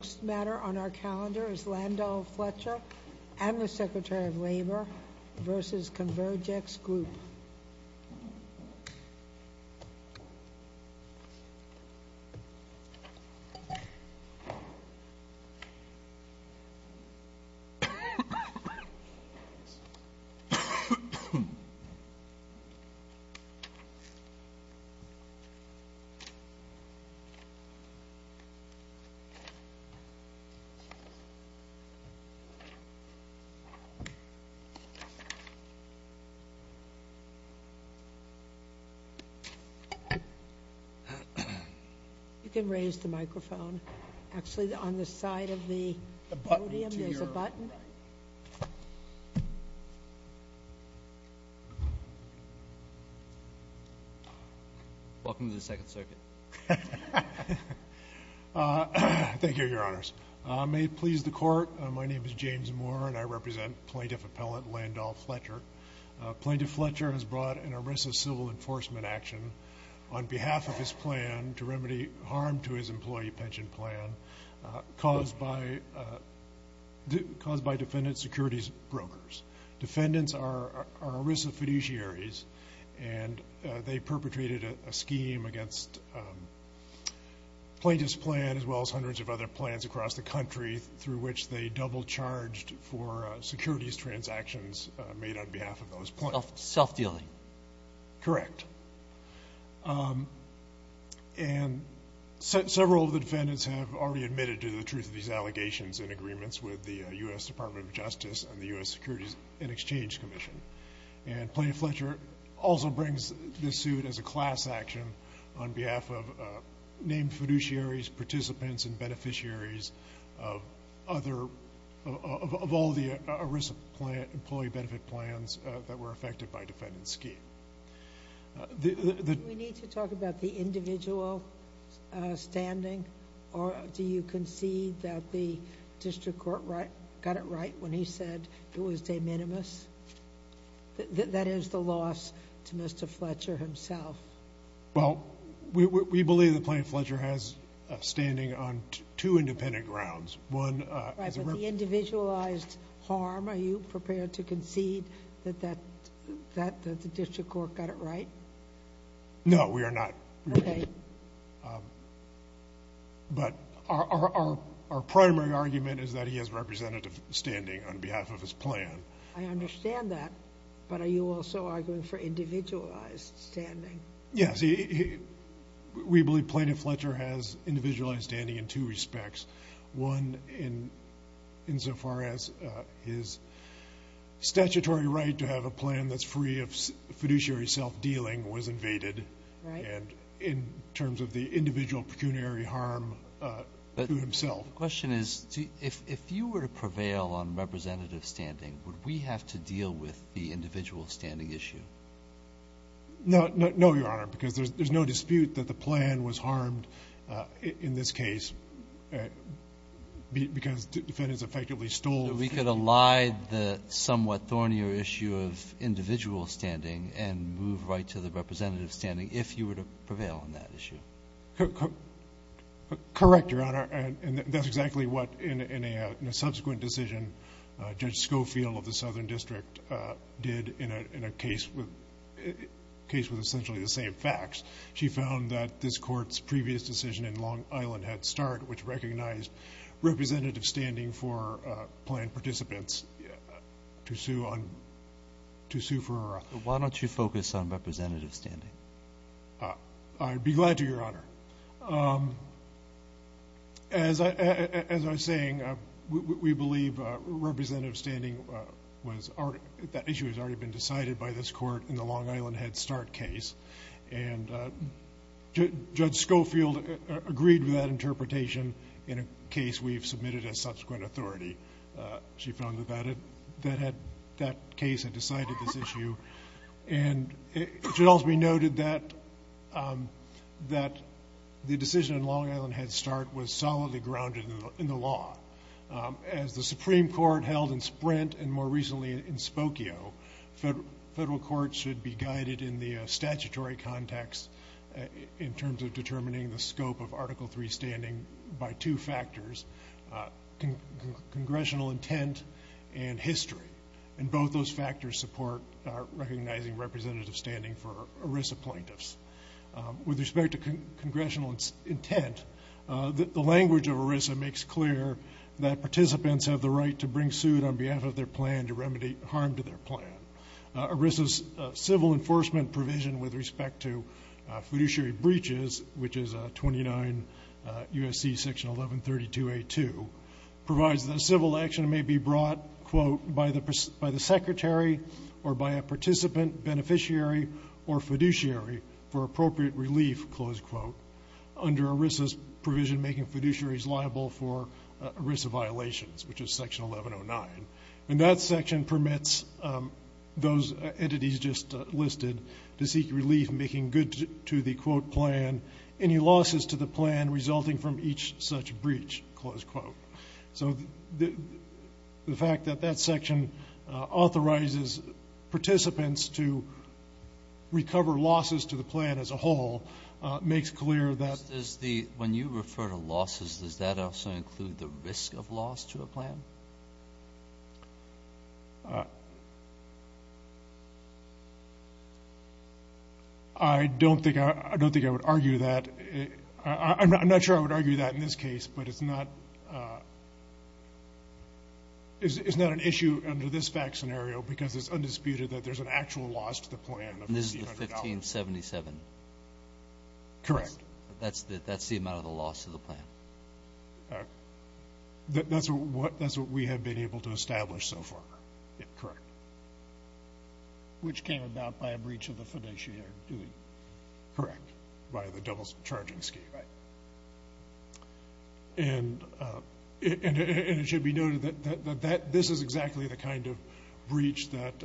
The next matter on our calendar is Landau-Fletcher and the Secretary of Labor v. Convergex Group. You can raise the microphone, actually on the side of the podium, there's a button. Welcome to the Second Circuit. Thank you, Your Honors. May it please the Court, my name is James Moore and I represent Plaintiff Appellant Landau-Fletcher. Plaintiff Fletcher has brought an ERISA civil enforcement action on behalf of his plan to remedy harm to his employee pension plan caused by defendant securities brokers. Defendants are ERISA fiduciaries and they perpetrated a scheme against Plaintiff's plan as well as hundreds of other plans across the country through which they double charged for securities transactions made on behalf of those plans. Self-dealing. Correct. And several of the defendants have already admitted to the truth of these allegations with the U.S. Department of Justice and the U.S. Securities and Exchange Commission. And Plaintiff Fletcher also brings this suit as a class action on behalf of named fiduciaries, participants, and beneficiaries of all the ERISA employee benefit plans that were affected by defendant's scheme. Do we need to talk about the individual standing? Or do you concede that the district court got it right when he said it was de minimis? That is the loss to Mr. Fletcher himself. Well, we believe that Plaintiff Fletcher has standing on two independent grounds. But the individualized harm, are you prepared to concede that the district court got it right? No, we are not. But our primary argument is that he has representative standing on behalf of his plan. I understand that. But are you also arguing for individualized standing? Yes. We believe Plaintiff Fletcher has individualized standing in two respects. One, insofar as his statutory right to have a plan that's free of fiduciary self-dealing was invaded. And in terms of the individual pecuniary harm to himself. The question is, if you were to prevail on representative standing, would we have to deal with the individual standing issue? No, Your Honor, because there's no dispute that the plan was harmed in this case because defendants effectively stole. We could ally the somewhat thornier issue of individual standing and move right to the representative standing if you were to prevail on that issue. Correct, Your Honor. And that's exactly what, in a subsequent decision, Judge Schofield of the Southern District did in a case with essentially the same facts. She found that this court's previous decision in Long Island had start, which recognized representative standing for planned participants to sue for her office. Why don't you focus on representative standing? I'd be glad to, Your Honor. As I was saying, we believe that issue has already been decided by this court in the Long Island Head Start case. And Judge Schofield agreed with that interpretation in a case we've submitted as subsequent authority. She found that that case had decided this issue. And it should also be noted that the decision in Long Island Head Start was solidly grounded in the law. As the Supreme Court held in Sprint and more recently in Spokio, federal courts should be guided in the statutory context in terms of determining the scope of Article III standing by two factors, congressional intent and history. And both those factors support recognizing representative standing for ERISA plaintiffs. With respect to congressional intent, the language of ERISA makes clear that participants have the right to bring suit on behalf of their plan to remedy harm to their plan. ERISA's civil enforcement provision with respect to fiduciary breaches, which is 29 U.S.C. section 1132A2, provides that a civil action may be brought, quote, by the secretary or by a participant, beneficiary, or fiduciary for appropriate relief, close quote, under ERISA's provision making fiduciaries liable for ERISA violations, which is section 1109. And that section permits those entities just listed to seek relief making good to the, quote, plan, any losses to the plan resulting from each such breach, close quote. So the fact that that section authorizes participants to recover losses to the plan as a whole makes clear that. When you refer to losses, does that also include the risk of loss to a plan? I don't think I would argue that. I'm not sure I would argue that in this case, but it's not an issue under this fact scenario because it's undisputed that there's an actual loss to the plan. This is the 1577. Correct. That's the amount of the loss to the plan. That's what we have been able to establish so far. Correct. Which came about by a breach of the fiduciary duty. Correct. By the double charging scheme. Right. And it should be noted that this is exactly the kind of breach that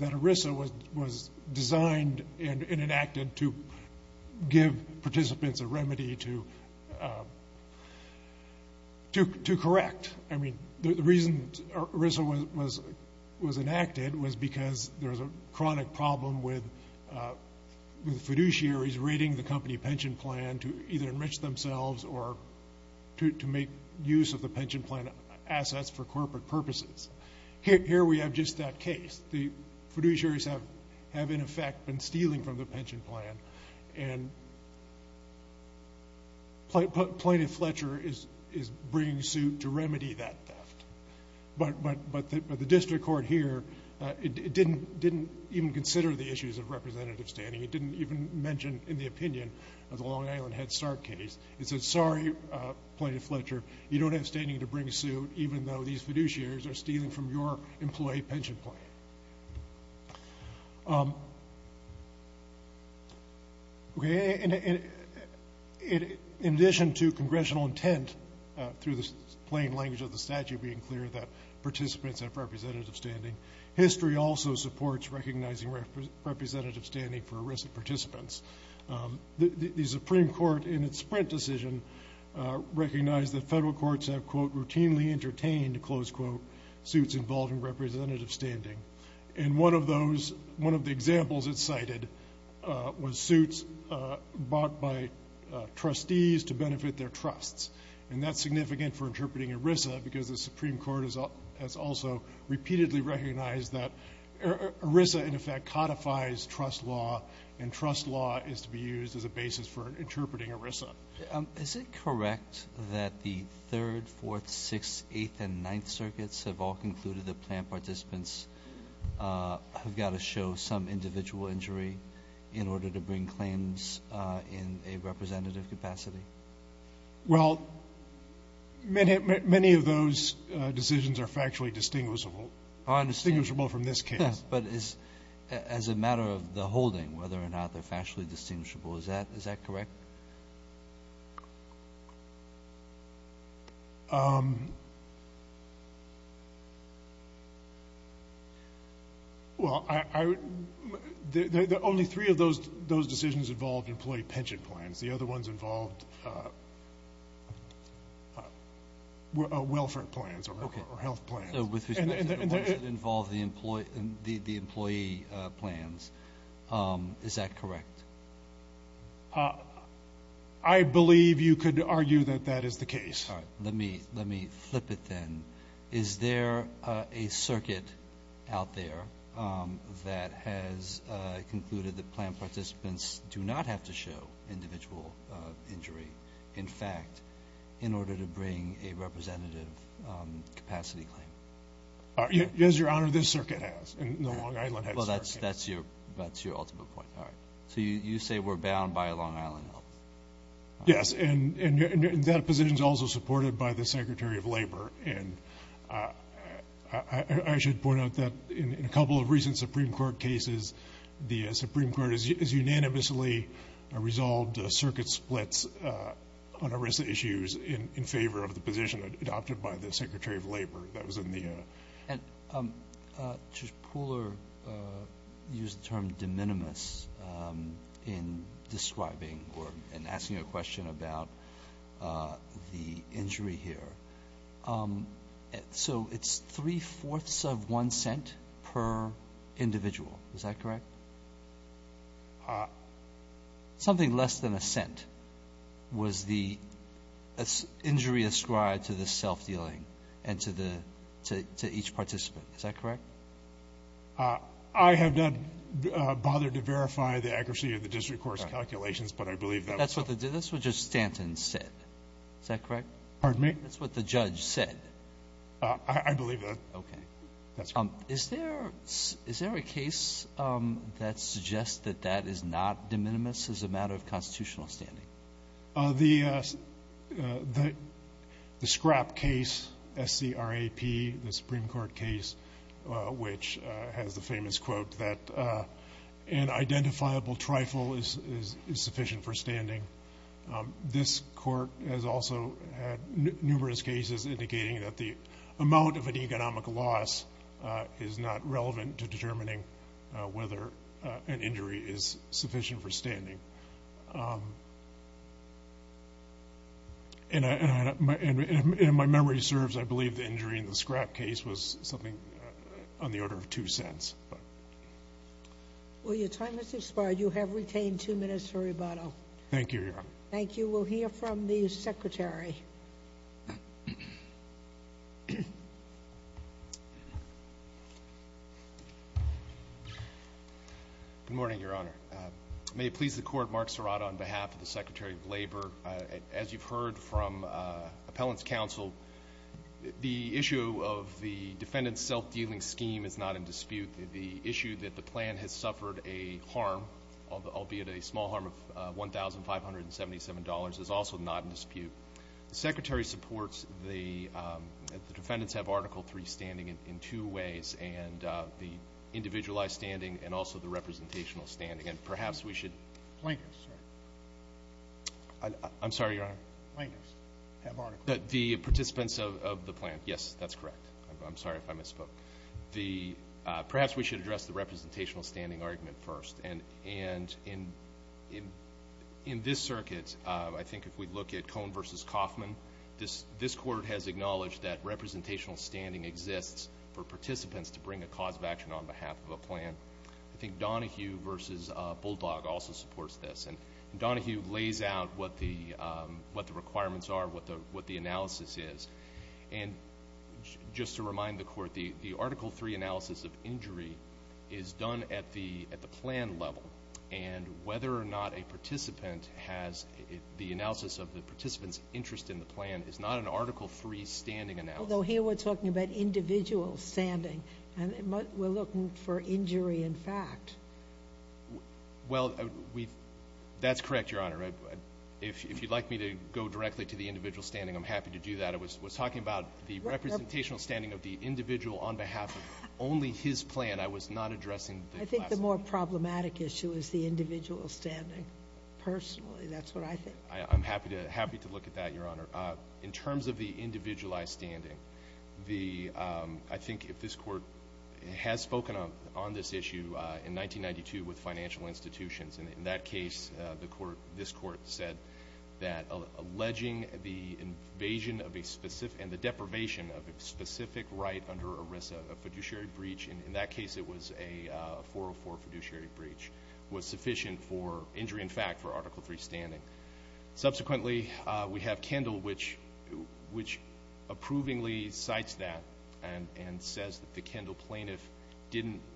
ERISA was designed and enacted to give participants a remedy to correct. I mean, the reason ERISA was enacted was because there was a chronic problem with fiduciaries raiding the company pension plan to either enrich themselves or to make use of the pension plan assets for corporate purposes. Here we have just that case. The fiduciaries have, in effect, been stealing from the pension plan, and Plaintiff Fletcher is bringing suit to remedy that theft. But the district court here didn't even consider the issues of representative standing. It didn't even mention in the opinion of the Long Island Head Start case. It said, sorry, Plaintiff Fletcher, you don't have standing to bring suit, even though these fiduciaries are stealing from your employee pension plan. In addition to congressional intent, through the plain language of the statute being clear, that participants have representative standing, history also supports recognizing representative standing for ERISA participants. The Supreme Court, in its sprint decision, recognized that federal courts have, quote, routinely entertained, close quote, suits involving representative standing. And one of the examples it cited was suits bought by trustees to benefit their trusts. And that's significant for interpreting ERISA because the Supreme Court has also repeatedly recognized that ERISA, in effect, codifies trust law, and trust law is to be used as a basis for interpreting ERISA. Is it correct that the Third, Fourth, Sixth, Eighth, and Ninth circuits have all concluded that plan participants have got to show some individual injury in order to bring claims in a representative capacity? Well, many of those decisions are factually distinguishable. I understand. Distinguishable from this case. Yes, but as a matter of the holding, whether or not they're factually distinguishable, is that correct? Well, only three of those decisions involved employee pension plans. The other ones involved welfare plans or health plans. With respect to the ones that involve the employee plans, is that correct? I believe you could argue that that is the case. Let me flip it then. Is there a circuit out there that has concluded that plan participants do not have to show individual injury, in fact, in order to bring a representative capacity claim? Yes, Your Honor, this circuit has, and Long Island has. Well, that's your ultimate point. All right. So you say we're bound by Long Island health? Yes, and that position is also supported by the Secretary of Labor. I should point out that in a couple of recent Supreme Court cases, the Supreme Court has unanimously resolved circuit splits on a range of issues in favor of the position adopted by the Secretary of Labor. That was in the ---- And Judge Pooler used the term de minimis in describing or in asking a question about the injury here. So it's three-fourths of one cent per individual. Is that correct? Something less than a cent was the injury ascribed to the self-dealing and to each participant. Is that correct? I have not bothered to verify the accuracy of the district court's calculations, but I believe that was ---- That's what Judge Stanton said. Is that correct? Pardon me? That's what the judge said. I believe that. Okay. Is there a case that suggests that that is not de minimis as a matter of constitutional standing? The scrap case, SCRAP, the Supreme Court case, which has the famous quote that an identifiable trifle is sufficient for standing. This court has also had numerous cases indicating that the amount of an economic loss is not relevant to determining whether an injury is sufficient for standing. And if my memory serves, I believe the injury in the SCRAP case was something on the order of two cents. Well, your time has expired. You have retained two minutes for rebuttal. Thank you, Your Honor. Thank you. We'll hear from the Secretary. Good morning, Your Honor. May it please the Court, Mark Serrato on behalf of the Secretary of Labor. As you've heard from appellants counsel, the issue of the defendant's self-dealing scheme is not in dispute. The issue that the plan has suffered a harm, albeit a small harm of $1,577, is also not in dispute. The Secretary supports that the defendants have Article III standing in two ways, and the individualized standing and also the representational standing. And perhaps we should – Plaintiffs, sir. I'm sorry, Your Honor. Plaintiffs have Article III. The participants of the plan. Yes, that's correct. I'm sorry if I misspoke. Perhaps we should address the representational standing argument first. And in this circuit, I think if we look at Cohn v. Kaufman, this Court has acknowledged that representational standing exists for participants to bring a cause of action on behalf of a plan. I think Donahue v. Bulldog also supports this. And Donahue lays out what the requirements are, what the analysis is. And just to remind the Court, the Article III analysis of injury is done at the plan level. And whether or not a participant has the analysis of the participant's interest in the plan is not an Article III standing analysis. Although here we're talking about individual standing. We're looking for injury in fact. Well, that's correct, Your Honor. If you'd like me to go directly to the individual standing, I'm happy to do that. I was talking about the representational standing of the individual on behalf of only his plan. I was not addressing the class plan. I think the more problematic issue is the individual standing. Personally, that's what I think. I'm happy to look at that, Your Honor. In terms of the individualized standing, I think if this Court has spoken on this issue in 1992 with financial institutions, in that case this Court said that alleging the invasion and the deprivation of a specific right under ERISA, a fiduciary breach, in that case it was a 404 fiduciary breach, was sufficient for injury in fact for Article III standing. Subsequently, we have Kendall, which approvingly cites that and says that the Kendall plaintiff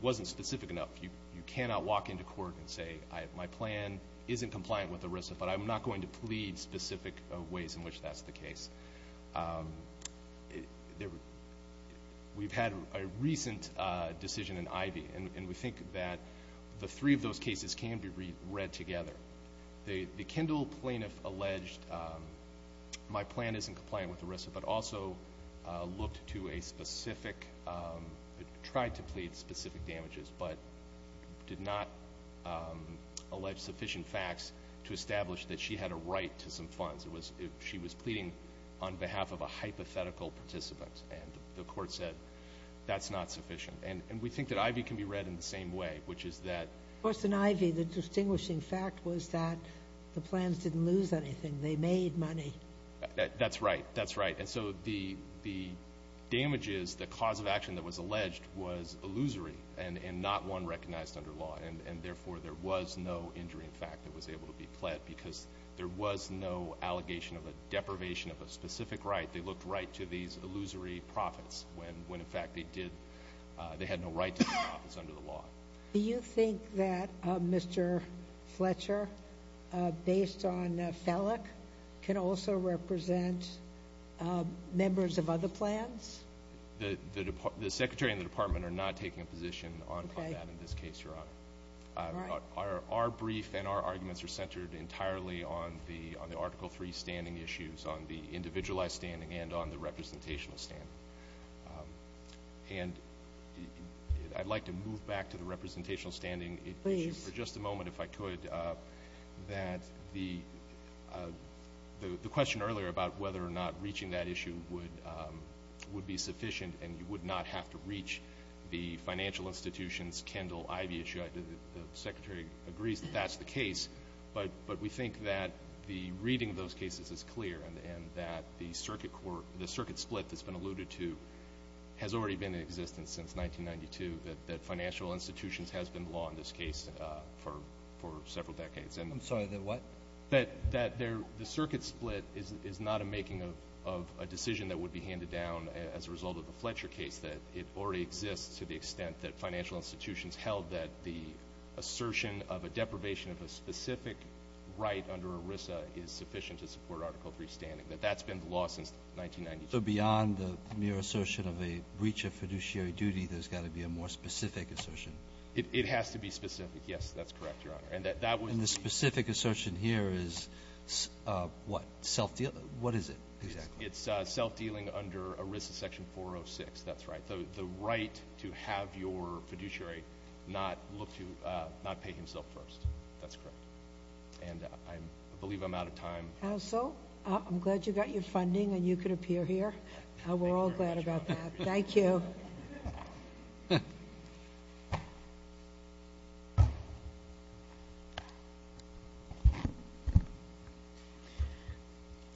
wasn't specific enough. You cannot walk into court and say my plan isn't compliant with ERISA, but I'm not going to plead specific ways in which that's the case. We've had a recent decision in Ivey, and we think that the three of those cases can be read together. The Kendall plaintiff alleged my plan isn't compliant with ERISA, but also tried to plead specific damages but did not allege sufficient facts to establish that she had a right to some funds. She was pleading on behalf of a hypothetical participant, and the Court said that's not sufficient. And we think that Ivey can be read in the same way, which is that— Of course, in Ivey the distinguishing fact was that the plans didn't lose anything. They made money. That's right. That's right. And so the damages, the cause of action that was alleged was illusory and not one recognized under law, and therefore there was no injury in fact that was able to be pled because there was no allegation of a deprivation of a specific right. They looked right to these illusory profits when, in fact, they had no right to these profits under the law. Do you think that Mr. Fletcher, based on Fellick, can also represent members of other plans? The Secretary and the Department are not taking a position on that in this case, Your Honor. All right. Our brief and our arguments are centered entirely on the Article III standing issues, on the individualized standing and on the representational standing. And I'd like to move back to the representational standing issue for just a moment, if I could, that the question earlier about whether or not reaching that issue would be sufficient and you would not have to reach the financial institutions, Kendall, Ivey issue, the Secretary agrees that that's the case, but we think that the reading of those cases is clear and that the circuit split that's been alluded to has already been in existence since 1992, that financial institutions has been the law in this case for several decades. I'm sorry, the what? That the circuit split is not a making of a decision that would be handed down as a result of the Fletcher case, that it already exists to the extent that financial institutions held that the assertion of a deprivation of a specific right under ERISA is sufficient to support Article III standing, that that's been the law since 1992. So beyond the mere assertion of a breach of fiduciary duty, there's got to be a more specific assertion? It has to be specific. Yes, that's correct, Your Honor. And the specific assertion here is what? Self-deal? What is it exactly? It's self-dealing under ERISA Section 406. That's right. The right to have your fiduciary not look to not pay himself first. That's correct. And I believe I'm out of time. Counsel, I'm glad you got your funding and you could appear here. We're all glad about that. Thank you.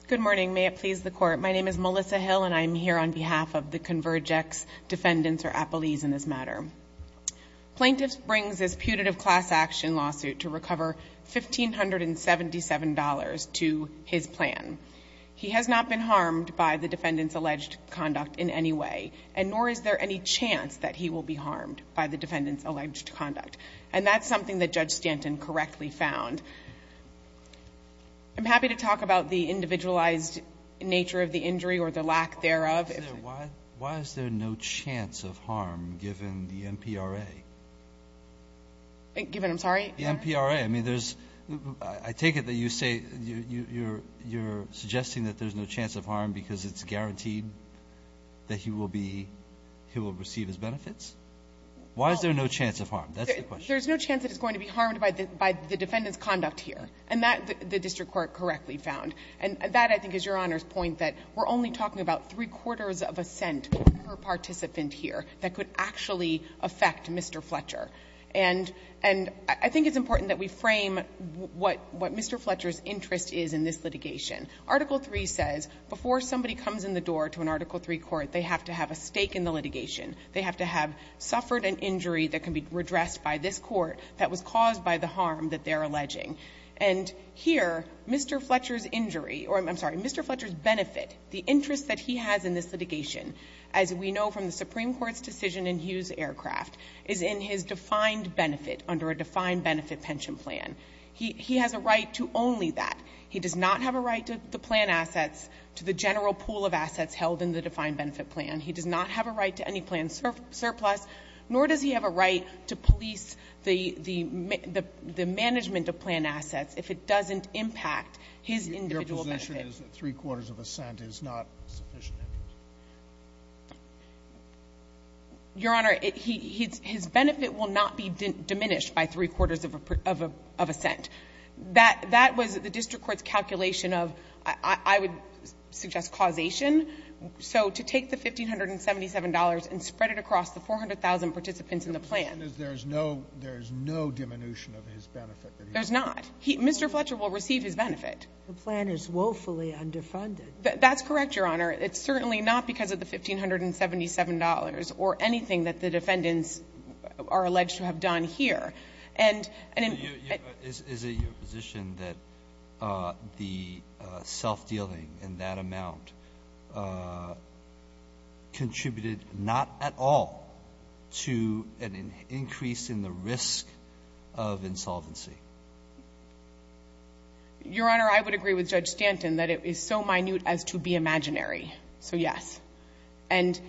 Good morning. May it please the Court. My name is Melissa Hill, and I'm here on behalf of the Convergex defendants, or appellees, in this matter. Plaintiff brings this putative class action lawsuit to recover $1,577 to his plan. He has not been harmed by the defendant's alleged conduct in any way, and nor is there any chance that he will be harmed by the defendant's alleged conduct. And that's something that Judge Stanton correctly found. I'm happy to talk about the individualized nature of the injury or the lack thereof. Why is there no chance of harm given the MPRA? Given, I'm sorry? The MPRA. I mean, there's – I take it that you say you're suggesting that there's no chance of harm because it's guaranteed that he will be – he will receive his benefits? Why is there no chance of harm? That's the question. There's no chance that he's going to be harmed by the defendant's conduct here. And that the district court correctly found. And that, I think, is Your Honor's point, that we're only talking about three-quarters of a cent per participant here that could actually affect Mr. Fletcher. And I think it's important that we frame what Mr. Fletcher's interest is in this litigation. Article III says before somebody comes in the door to an Article III court, they have to have a stake in the litigation. They have to have suffered an injury that can be redressed by this court that was caused by the harm that they're alleging. And here, Mr. Fletcher's injury – or, I'm sorry, Mr. Fletcher's benefit, the interest that he has in this litigation, as we know from the Supreme Court's decision in Hughes Aircraft, is in his defined benefit under a defined benefit pension plan. He has a right to only that. He does not have a right to the plan assets, to the general pool of assets held in the defined benefit plan. He does not have a right to any plan surplus, nor does he have a right to police the management of plan assets if it doesn't impact his individual benefit. Your position is that three-quarters of a cent is not sufficient? Your Honor, his benefit will not be diminished by three-quarters of a cent. That was the district court's calculation of, I would suggest, causation. So to take the $1,577 and spread it across the 400,000 participants in the plan – There's no – there's no diminution of his benefit that he has. There's not. Mr. Fletcher will receive his benefit. The plan is woefully underfunded. That's correct, Your Honor. It's certainly not because of the $1,577 or anything that the defendants are alleged to have done here. And in – Is it your position that the self-dealing in that amount contributed not at all to an increase in the risk of insolvency? Your Honor, I would agree with Judge Stanton that it is so minute as to be imaginary. So, yes. And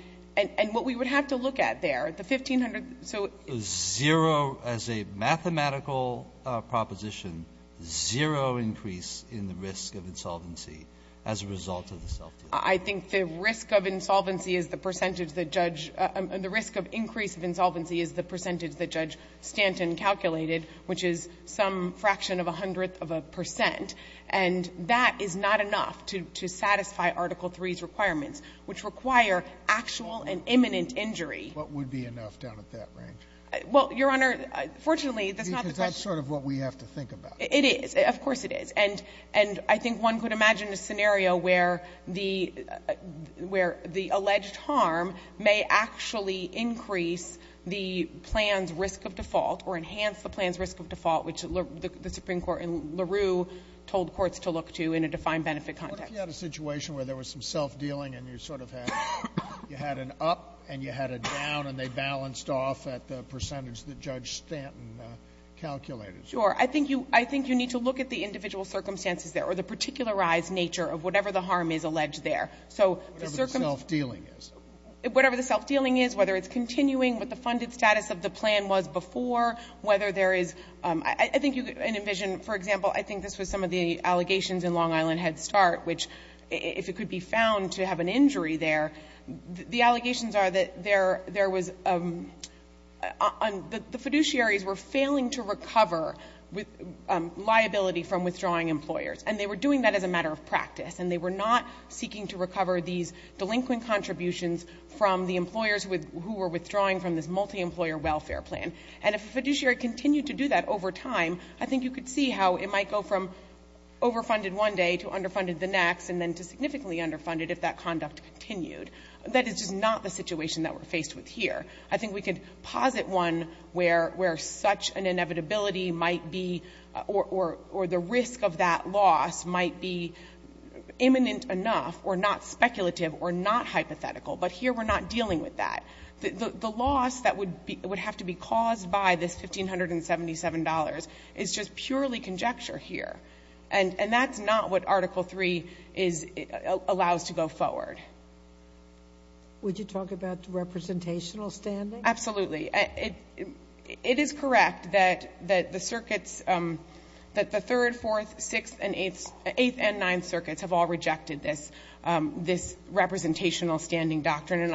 what we would have to look at there, the 1,500 – so – Zero – as a mathematical proposition, zero increase in the risk of insolvency as a result of the self-dealing. I think the risk of insolvency is the percentage that Judge – the risk of increase in the risk of insolvency is the percentage that Judge Stanton calculated, which is some fraction of a hundredth of a percent. And that is not enough to satisfy Article III's requirements, which require actual and imminent injury. What would be enough down at that range? Well, Your Honor, fortunately, that's not the question. Because that's sort of what we have to think about. It is. Of course it is. And I think one could imagine a scenario where the alleged harm may actually increase the plan's risk of default or enhance the plan's risk of default, which the Supreme Court in LaRue told courts to look to in a defined benefit context. What if you had a situation where there was some self-dealing and you sort of had – you had an up and you had a down and they balanced off at the percentage that Judge Stanton calculated? Sure. I think you need to look at the individual circumstances there or the particularized nature of whatever the harm is alleged there. Whatever the self-dealing is. Whatever the self-dealing is, whether it's continuing with the funded status of the plan was before, whether there is – I think you can envision, for example, I think this was some of the allegations in Long Island Head Start, which if it could be found to have an injury there, the allegations are that there was – the fiduciaries were failing to recover liability from withdrawing employers and they were doing that as a matter of practice and they were not seeking to recover these delinquent contributions from the employers who were withdrawing from this multi-employer welfare plan. And if a fiduciary continued to do that over time, I think you could see how it might go from overfunded one day to underfunded the next and then to significantly underfunded if that conduct continued. That is just not the situation that we're faced with here. I think we could posit one where such an inevitability might be – or the risk of that loss might be imminent enough or not speculative or not hypothetical, but here we're not dealing with that. The loss that would have to be caused by this $1,577 is just purely conjecture here. And that's not what Article III allows to go forward. Would you talk about representational standing? Absolutely. It is correct that the circuits – that the Third, Fourth, Sixth, and Eighth – Eighth and Ninth Circuits have all rejected this representational standing doctrine. And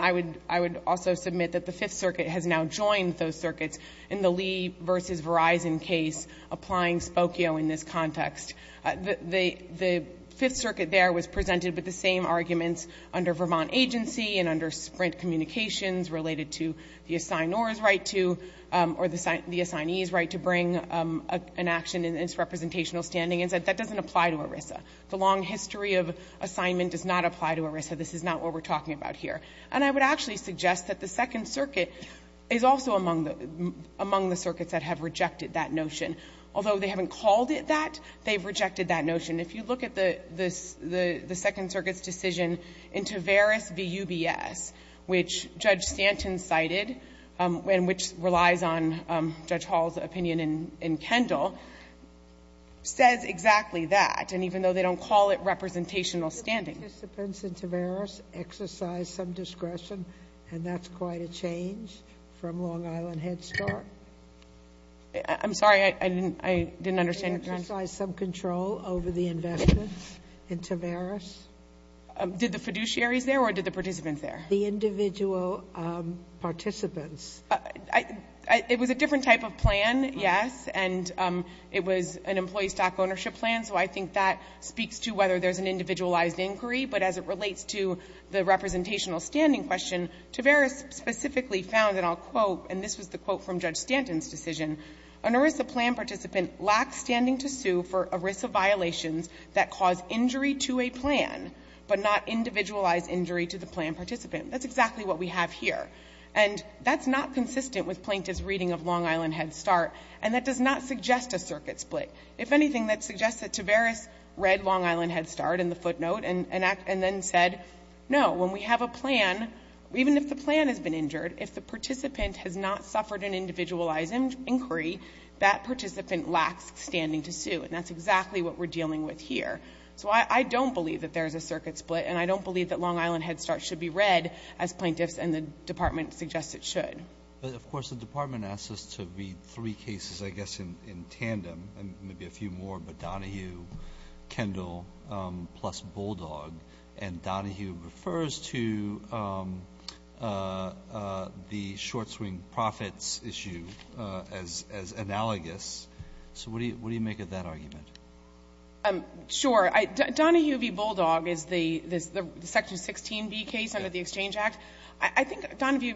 I would also submit that the Fifth Circuit has now joined those circuits in the Lee v. Verizon case applying Spokio in this context. The Fifth Circuit there was presented with the same arguments under Vermont agency and under Sprint Communications related to the assignor's right to – or the assignee's right to bring an action in its representational standing and said that doesn't apply to ERISA. The long history of assignment does not apply to ERISA. This is not what we're talking about here. And I would actually suggest that the Second Circuit is also among the circuits that have rejected that notion. Although they haven't called it that, they've rejected that notion. If you look at the Second Circuit's decision in Taveras v. UBS, which Judge Stanton cited and which relies on Judge Hall's opinion in Kendall, says exactly that, and even though they don't call it representational standing. Did the participants in Taveras exercise some discretion? And that's quite a change from Long Island Head Start. I'm sorry, I didn't understand your question. Did they exercise some control over the investments in Taveras? Did the fiduciaries there or did the participants there? The individual participants. It was a different type of plan, yes, and it was an employee stock ownership plan, so I think that speaks to whether there's an individualized inquiry. But as it relates to the representational standing question, Taveras specifically found, and I'll quote, and this was the quote from Judge Stanton's decision, an ERISA plan participant lacks standing to sue for ERISA violations that cause injury to a plan, but not individualized injury to the plan participant. That's exactly what we have here. And that's not consistent with Plaintiff's reading of Long Island Head Start, and that does not suggest a circuit split. If anything, that suggests that Taveras read Long Island Head Start in the footnote and then said, no, when we have a plan, even if the plan has been injured, if the participant has not suffered an individualized inquiry, that participant lacks standing to sue, and that's exactly what we're dealing with here. So I don't believe that there's a circuit split, and I don't believe that Long Island Head Start should be read as Plaintiffs and the Department suggests it should. But of course, the Department asks us to read three cases, I guess, in tandem, and maybe a few more, but Donahue, Kendall, plus Bulldog, and Donahue refers to the short-swing profits issue as analogous. So what do you make of that argument? Sure. Donahue v. Bulldog is the Section 16b case under the Exchange Act. I think Donahue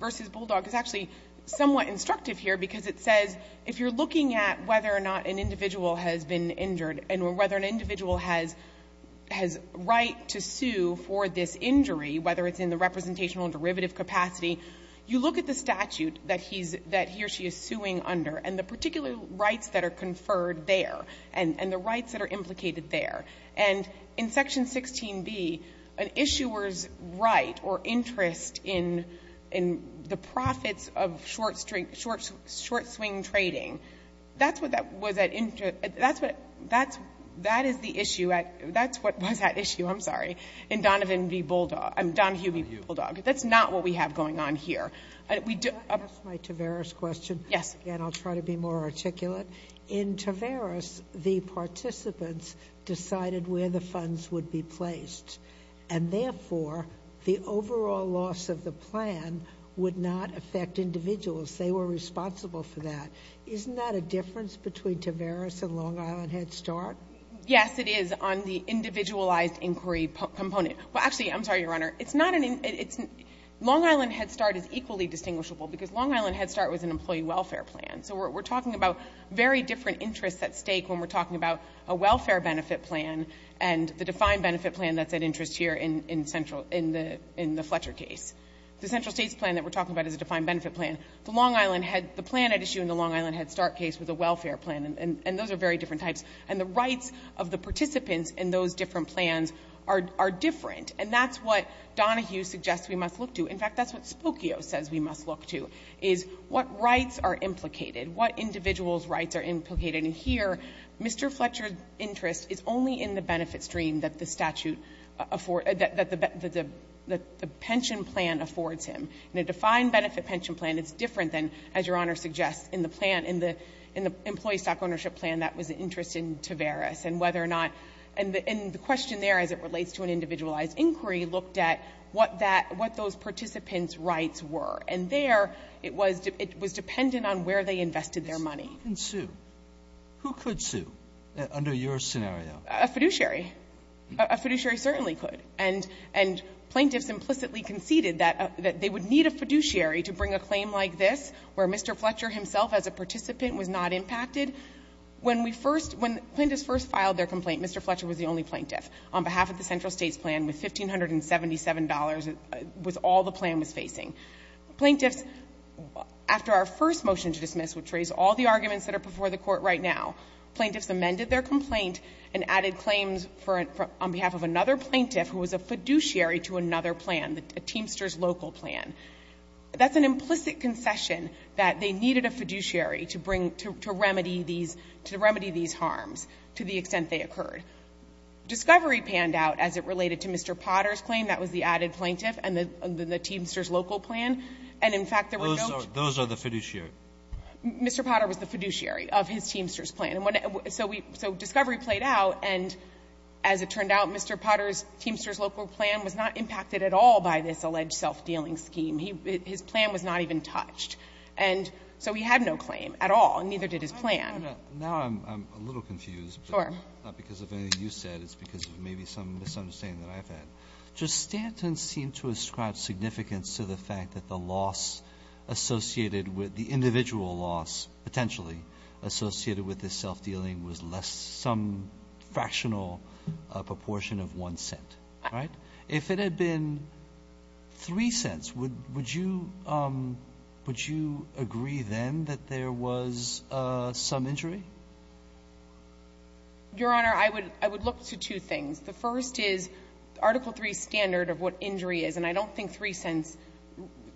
v. Bulldog is actually somewhat instructive here because it says if you're looking at whether or not an individual has been injured and whether an individual has right to sue for this injury, whether it's in the representational derivative capacity, you look at the statute that he or she is suing under and the particular rights that are conferred there and the rights that are implicated there. And in Section 16b, an issuer's right or interest in the profits of short-swing trading, that's what that is the issue at — that's what was at issue, I'm sorry, in Donahue v. Bulldog. That's not what we have going on here. Can I ask my Taveras question? Yes. And I'll try to be more articulate. In Taveras, the participants decided where the funds would be placed. And therefore, the overall loss of the plan would not affect individuals. They were responsible for that. Isn't that a difference between Taveras and Long Island Head Start? Yes, it is on the individualized inquiry component. Well, actually, I'm sorry, Your Honor. It's not an — Long Island Head Start is equally distinguishable because Long Island Head Start was an employee welfare plan. So we're talking about very different interests at stake when we're talking about a welfare benefit plan and the defined benefit plan that's at interest here in the Fletcher case. The Central States plan that we're talking about is a defined benefit plan. The Long Island — the plan at issue in the Long Island Head Start case was a welfare plan. And those are very different types. And the rights of the participants in those different plans are different. And that's what Donahue suggests we must look to. In fact, that's what Spokio says we must look to, is what rights are implicated, what individuals' rights are implicated. And here, Mr. Fletcher's interest is only in the benefit stream that the statute — that the pension plan affords him. In a defined benefit pension plan, it's different than, as Your Honor suggests, in the plan — in the employee stock ownership plan, that was the interest in Taveras and whether or not — and the question there, as it relates to an individualized inquiry, looked at what that — what those participants' rights were. And there, it was — it was dependent on where they invested their money. Sotomayor. Who could sue under your scenario? A fiduciary. A fiduciary certainly could. And — and plaintiffs implicitly conceded that they would need a fiduciary to bring a claim like this, where Mr. Fletcher himself as a participant was not impacted. When we first — when plaintiffs first filed their complaint, Mr. Fletcher was the only plaintiff on behalf of the Central States plan with $1,577 was all the plan was plaintiffs. After our first motion to dismiss, which raised all the arguments that are before the Court right now, plaintiffs amended their complaint and added claims for — on behalf of another plaintiff who was a fiduciary to another plan, the Teamster's local plan. That's an implicit concession that they needed a fiduciary to bring — to remedy these — to remedy these harms to the extent they occurred. Discovery panned out, as it related to Mr. Potter's claim, that was the added plaintiff and the Teamster's local plan. And, in fact, there were no — Those are the fiduciary. Mr. Potter was the fiduciary of his Teamster's plan. So we — so Discovery played out, and as it turned out, Mr. Potter's Teamster's local plan was not impacted at all by this alleged self-dealing scheme. His plan was not even touched. And so he had no claim at all, and neither did his plan. Now I'm a little confused. Sure. Not because of anything you said. It's because of maybe some misunderstanding that I've had. Just Stanton seemed to ascribe significance to the fact that the loss associated with — the individual loss, potentially, associated with this self-dealing was less — some fractional proportion of one cent, right? If it had been three cents, would you — would you agree then that there was some injury? Your Honor, I would — I would look to two things. The first is Article III's standard of what injury is, and I don't think three cents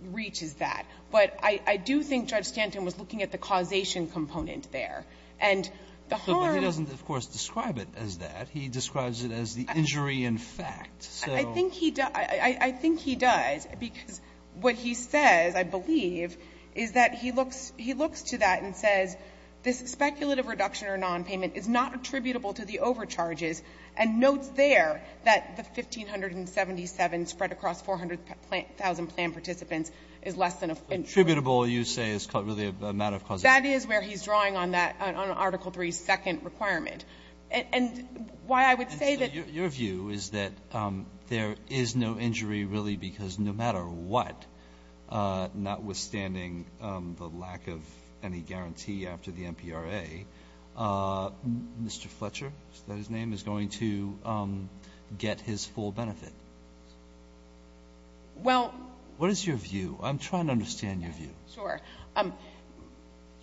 reaches that. But I do think Judge Stanton was looking at the causation component there. And the harm — But he doesn't, of course, describe it as that. He describes it as the injury in fact. So — I think he does. I think he does, because what he says, I believe, is that he looks — he looks to that and says this speculative reduction or nonpayment is not attributable to the overcharges, and notes there that the 1,577 spread across 400,000 planned participants is less than a — Attributable, you say, is really a matter of causation. That is where he's drawing on that — on Article III's second requirement. And why I would say that — And so your view is that there is no injury really because no matter what, notwithstanding the lack of any guarantee after the MPRA, Mr. Fletcher, is that his name, is going to get his full benefit? Well — What is your view? I'm trying to understand your view. Sure.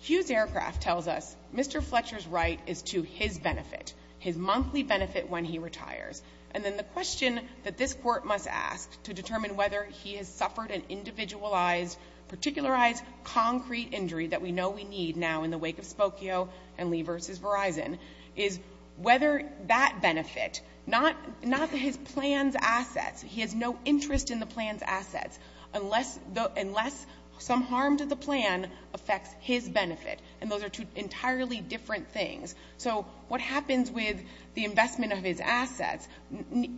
Hughes Aircraft tells us Mr. Fletcher's right is to his benefit, his monthly benefit when he retires. And then the question that this Court must ask to determine whether he has suffered an individualized, particularized concrete injury that we know we need now in the wake of Spokio and Lee v. Verizon is whether that benefit — not his plan's assets. He has no interest in the plan's assets unless some harm to the plan affects his benefit. And those are two entirely different things. So what happens with the investment of his assets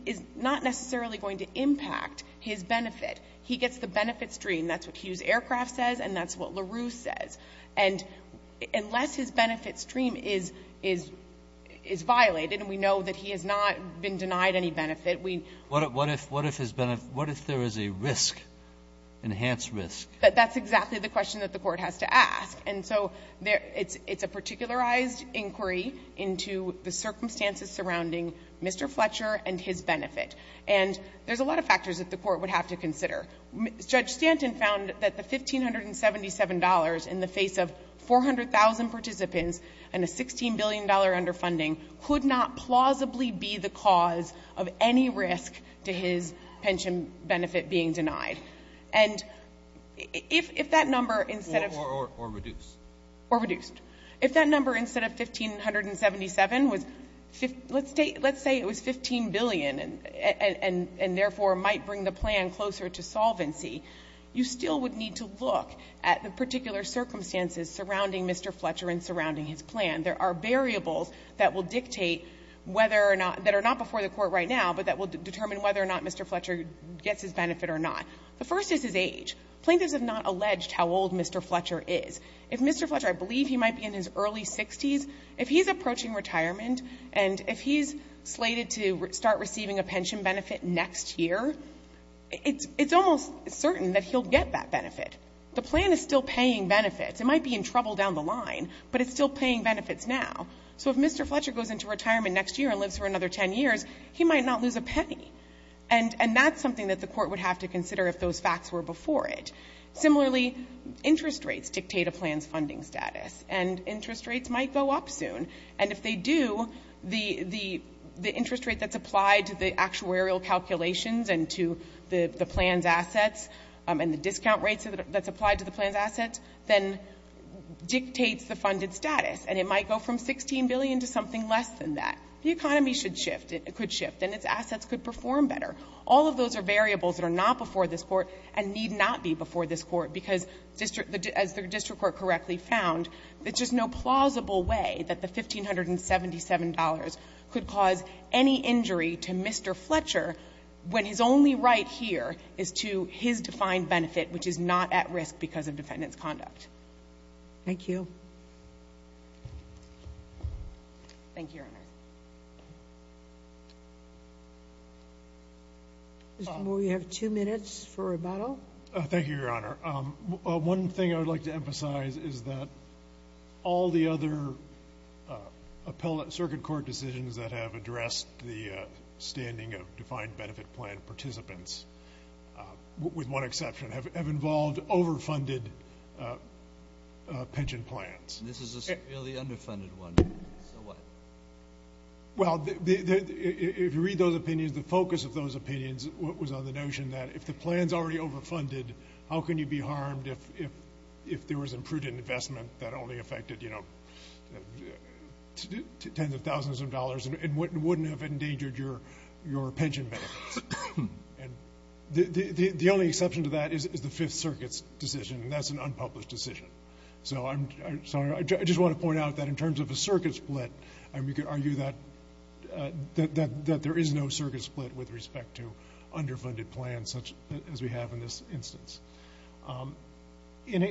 is not necessarily going to impact his benefit. He gets the benefit stream. That's what Hughes Aircraft says and that's what LaRue says. And unless his benefit stream is violated, and we know that he has not been denied any benefit, we — What if his — what if there is a risk, enhanced risk? That's exactly the question that the Court has to ask. And so it's a particularized inquiry into the circumstances surrounding Mr. Fletcher and his benefit. And there's a lot of factors that the Court would have to consider. Judge Stanton found that the $1,577 in the face of 400,000 participants and a $16 billion underfunding could not plausibly be the cause of any risk to his pension benefit being denied. And if that number instead of — Or reduced. Or reduced. If that number instead of $1,577 was — let's say it was $15 billion and therefore might bring the plan closer to solvency, you still would need to look at the particular circumstances surrounding Mr. Fletcher and surrounding his plan. There are variables that will dictate whether or not — that are not before the Court right now, but that will determine whether or not Mr. Fletcher gets his benefit or not. The first is his age. Plaintiffs have not alleged how old Mr. Fletcher is. If Mr. Fletcher — I believe he might be in his early 60s. If he's approaching retirement and if he's slated to start receiving a pension benefit next year, it's almost certain that he'll get that benefit. The plan is still paying benefits. It might be in trouble down the line, but it's still paying benefits now. So if Mr. Fletcher goes into retirement next year and lives for another 10 years, he might not lose a penny. And that's something that the Court would have to consider if those facts were before it. Similarly, interest rates dictate a plan's funding status. And interest rates might go up soon. And if they do, the interest rate that's applied to the actuarial calculations and to the plan's assets and the discount rates that's applied to the plan's assets then dictates the funded status. And it might go from $16 billion to something less than that. The economy should shift. It could shift. And its assets could perform better. All of those are variables that are not before this Court and need not be before this Court because, as the district court correctly found, there's just no plausible way that the $1,577 could cause any injury to Mr. Fletcher when his only right here is to his defined benefit, which is not at risk because of defendant's conduct. Thank you. Thank you, Your Honor. Mr. Moore, you have two minutes for rebuttal. Thank you, Your Honor. One thing I would like to emphasize is that all the other circuit court decisions that have addressed the standing of defined benefit plan participants, with one exception, have involved overfunded pension plans. This is a severely underfunded one. So what? Well, if you read those opinions, the focus of those opinions was on the notion that if the plan's already overfunded, how can you be harmed if there was imprudent investment that only affected, you know, tens of thousands of dollars and wouldn't have endangered your pension benefits. The only exception to that is the Fifth Circuit's decision, and that's an unpublished decision. So I just want to point out that in terms of a circuit split, we could argue that there is no circuit split with respect to underfunded plans such as we have in this instance. In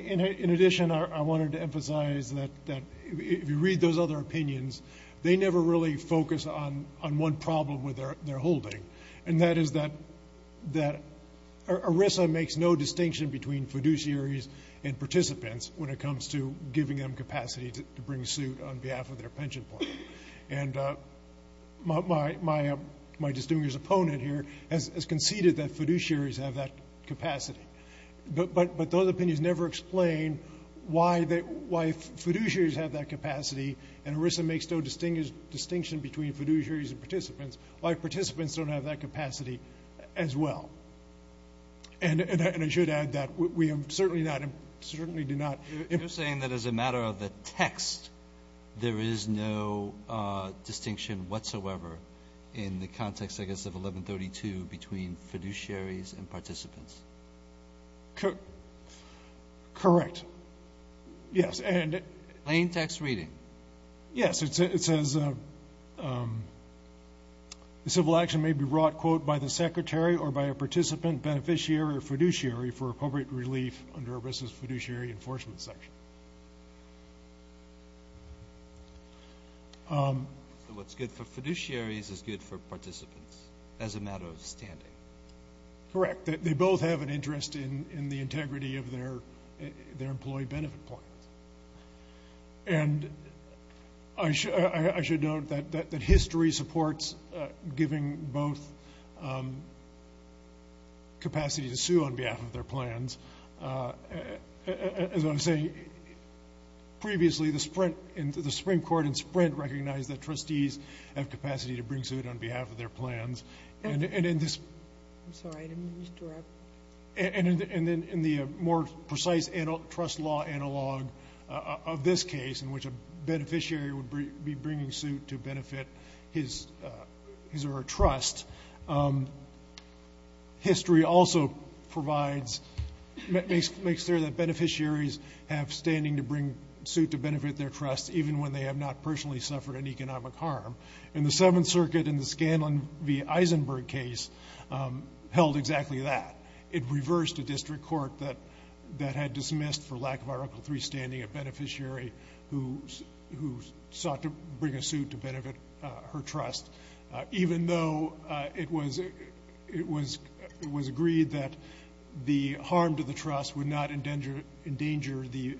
addition, I wanted to emphasize that if you read those other opinions, they never really focus on one problem with their holding, and that is that ERISA makes no distinction between fiduciaries and participants when it comes to giving them capacity to bring suit on behalf of their pension plan. And my distinguished opponent here has conceded that fiduciaries have that capacity. But those opinions never explain why fiduciaries have that capacity, and ERISA makes no distinction between fiduciaries and participants, why participants don't have that capacity as well. And I should add that we certainly do not. You're saying that as a matter of the text, there is no distinction whatsoever in the context, I guess, of 1132 between fiduciaries and participants. Correct. Yes. Plain text reading. Yes. It says the civil action may be wrought, quote, by the secretary or by a participant, beneficiary, or fiduciary for appropriate relief under ERISA's fiduciary enforcement section. So what's good for fiduciaries is good for participants as a matter of standing. Correct. They both have an interest in the integrity of their employee benefit plans. And I should note that history supports giving both capacity to sue on behalf of their plans. As I was saying previously, the Supreme Court in Sprint recognized that trustees have capacity to bring suit on behalf of their plans. I'm sorry, I didn't mean to interrupt. And in the more precise trust law analog of this case, in which a beneficiary would be bringing suit to benefit his or her trust, history also provides, makes clear that beneficiaries have standing to bring suit to benefit their trust, even when they have not personally suffered an economic harm. And the Seventh Circuit in the Scanlon v. Eisenberg case held exactly that. It reversed a district court that had dismissed, for lack of our Uncle Three standing, a beneficiary who sought to bring a suit to benefit her trust, even though it was agreed that the harm to the trust would not endanger the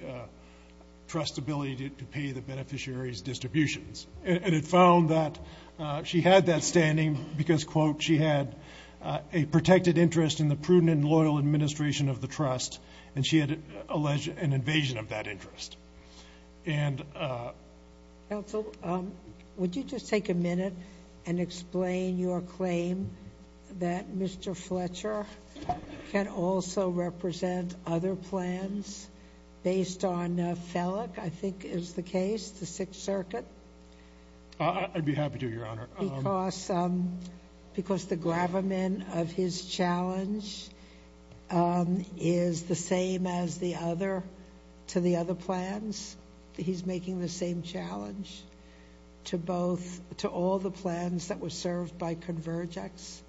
trust's ability to pay the beneficiary's distributions. And it found that she had that standing because, quote, she had a protected interest in the prudent and loyal administration of the trust, and she had alleged an invasion of that interest. Counsel, would you just take a minute and explain your claim that Mr. Fletcher can also represent other plans based on Felleck, I think is the case, the Sixth Circuit? I'd be happy to, Your Honor. Because the gravamen of his challenge is the same as the other to the other plans? He's making the same challenge to both, to all the plans that were served by Convergex?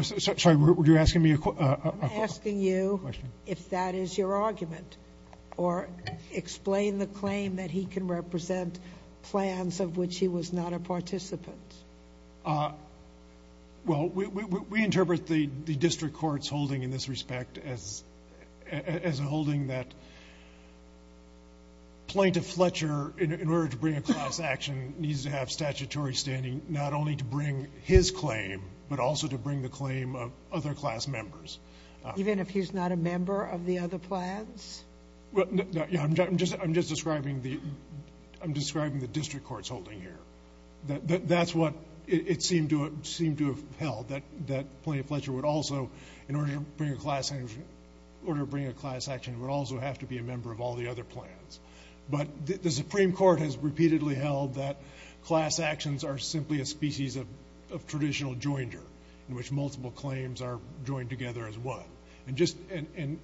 Sorry, were you asking me a question? I'm asking you if that is your argument, or explain the claim that he can represent plans of which he was not a participant. Well, we interpret the district court's holding in this respect as a holding that Plaintiff Fletcher, in order to bring a class action, needs to have statutory standing not only to bring his claim, but also to bring the claim of other class members. Even if he's not a member of the other plans? I'm just describing the district court's holding here. That's what it seemed to have held, that Plaintiff Fletcher would also, in order to bring a class action, would also have to be a member of all the other plans. But the Supreme Court has repeatedly held that class actions are simply a species of traditional joinder, in which multiple claims are joined together as one. And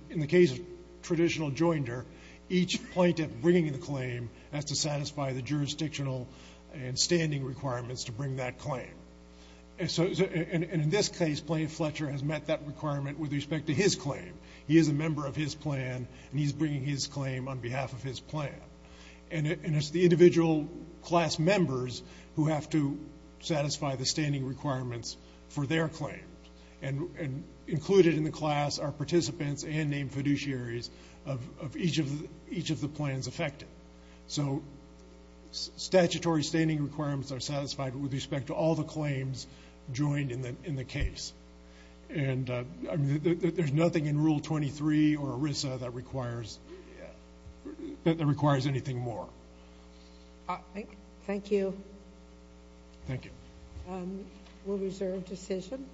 in the case of traditional joinder, each plaintiff bringing the claim has to satisfy the jurisdictional and standing requirements to bring that claim. And in this case, Plaintiff Fletcher has met that requirement with respect to his claim. He is a member of his plan, and he's bringing his claim on behalf of his plan. And it's the individual class members who have to satisfy the standing requirements for their claim. And included in the class are participants and named fiduciaries of each of the plans affected. So statutory standing requirements are satisfied with respect to all the claims joined in the case. And there's nothing in Rule 23 or ERISA that requires anything more. Thank you. Thank you. We'll reserve decision.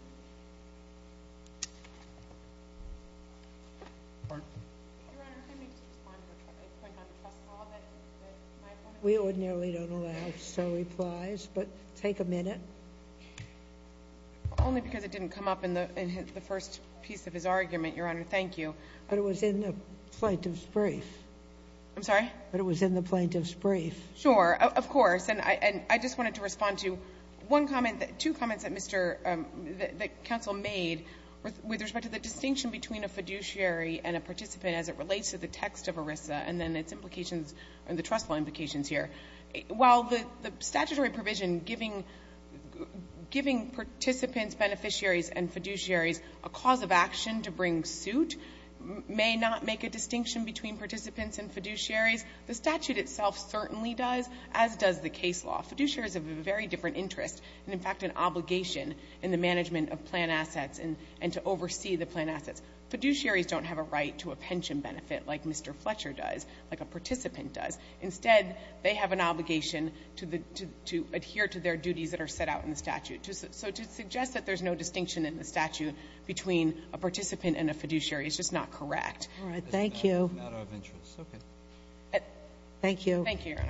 We ordinarily don't allow so replies, but take a minute. Only because it didn't come up in the first piece of his argument, Your Honor. Thank you. But it was in the plaintiff's brief. I'm sorry? But it was in the plaintiff's brief. Sure, of course. And I just wanted to respond to one comment, two comments that Mr. — that counsel made with respect to the distinction between a fiduciary and a participant as it relates to the text of ERISA and then its implications and the trustful implications here. While the statutory provision giving participants, beneficiaries, and fiduciaries a cause of action to bring suit may not make a distinction between participants and fiduciaries, the statute itself certainly does, as does the case law. Fiduciaries have a very different interest and, in fact, an obligation in the management of plan assets and to oversee the plan assets. Fiduciaries don't have a right to a pension benefit like Mr. Fletcher does, like a participant does. Instead, they have an obligation to adhere to their duties that are set out in the statute. So to suggest that there's no distinction in the statute between a participant and a fiduciary is just not correct. All right. Thank you. Thank you.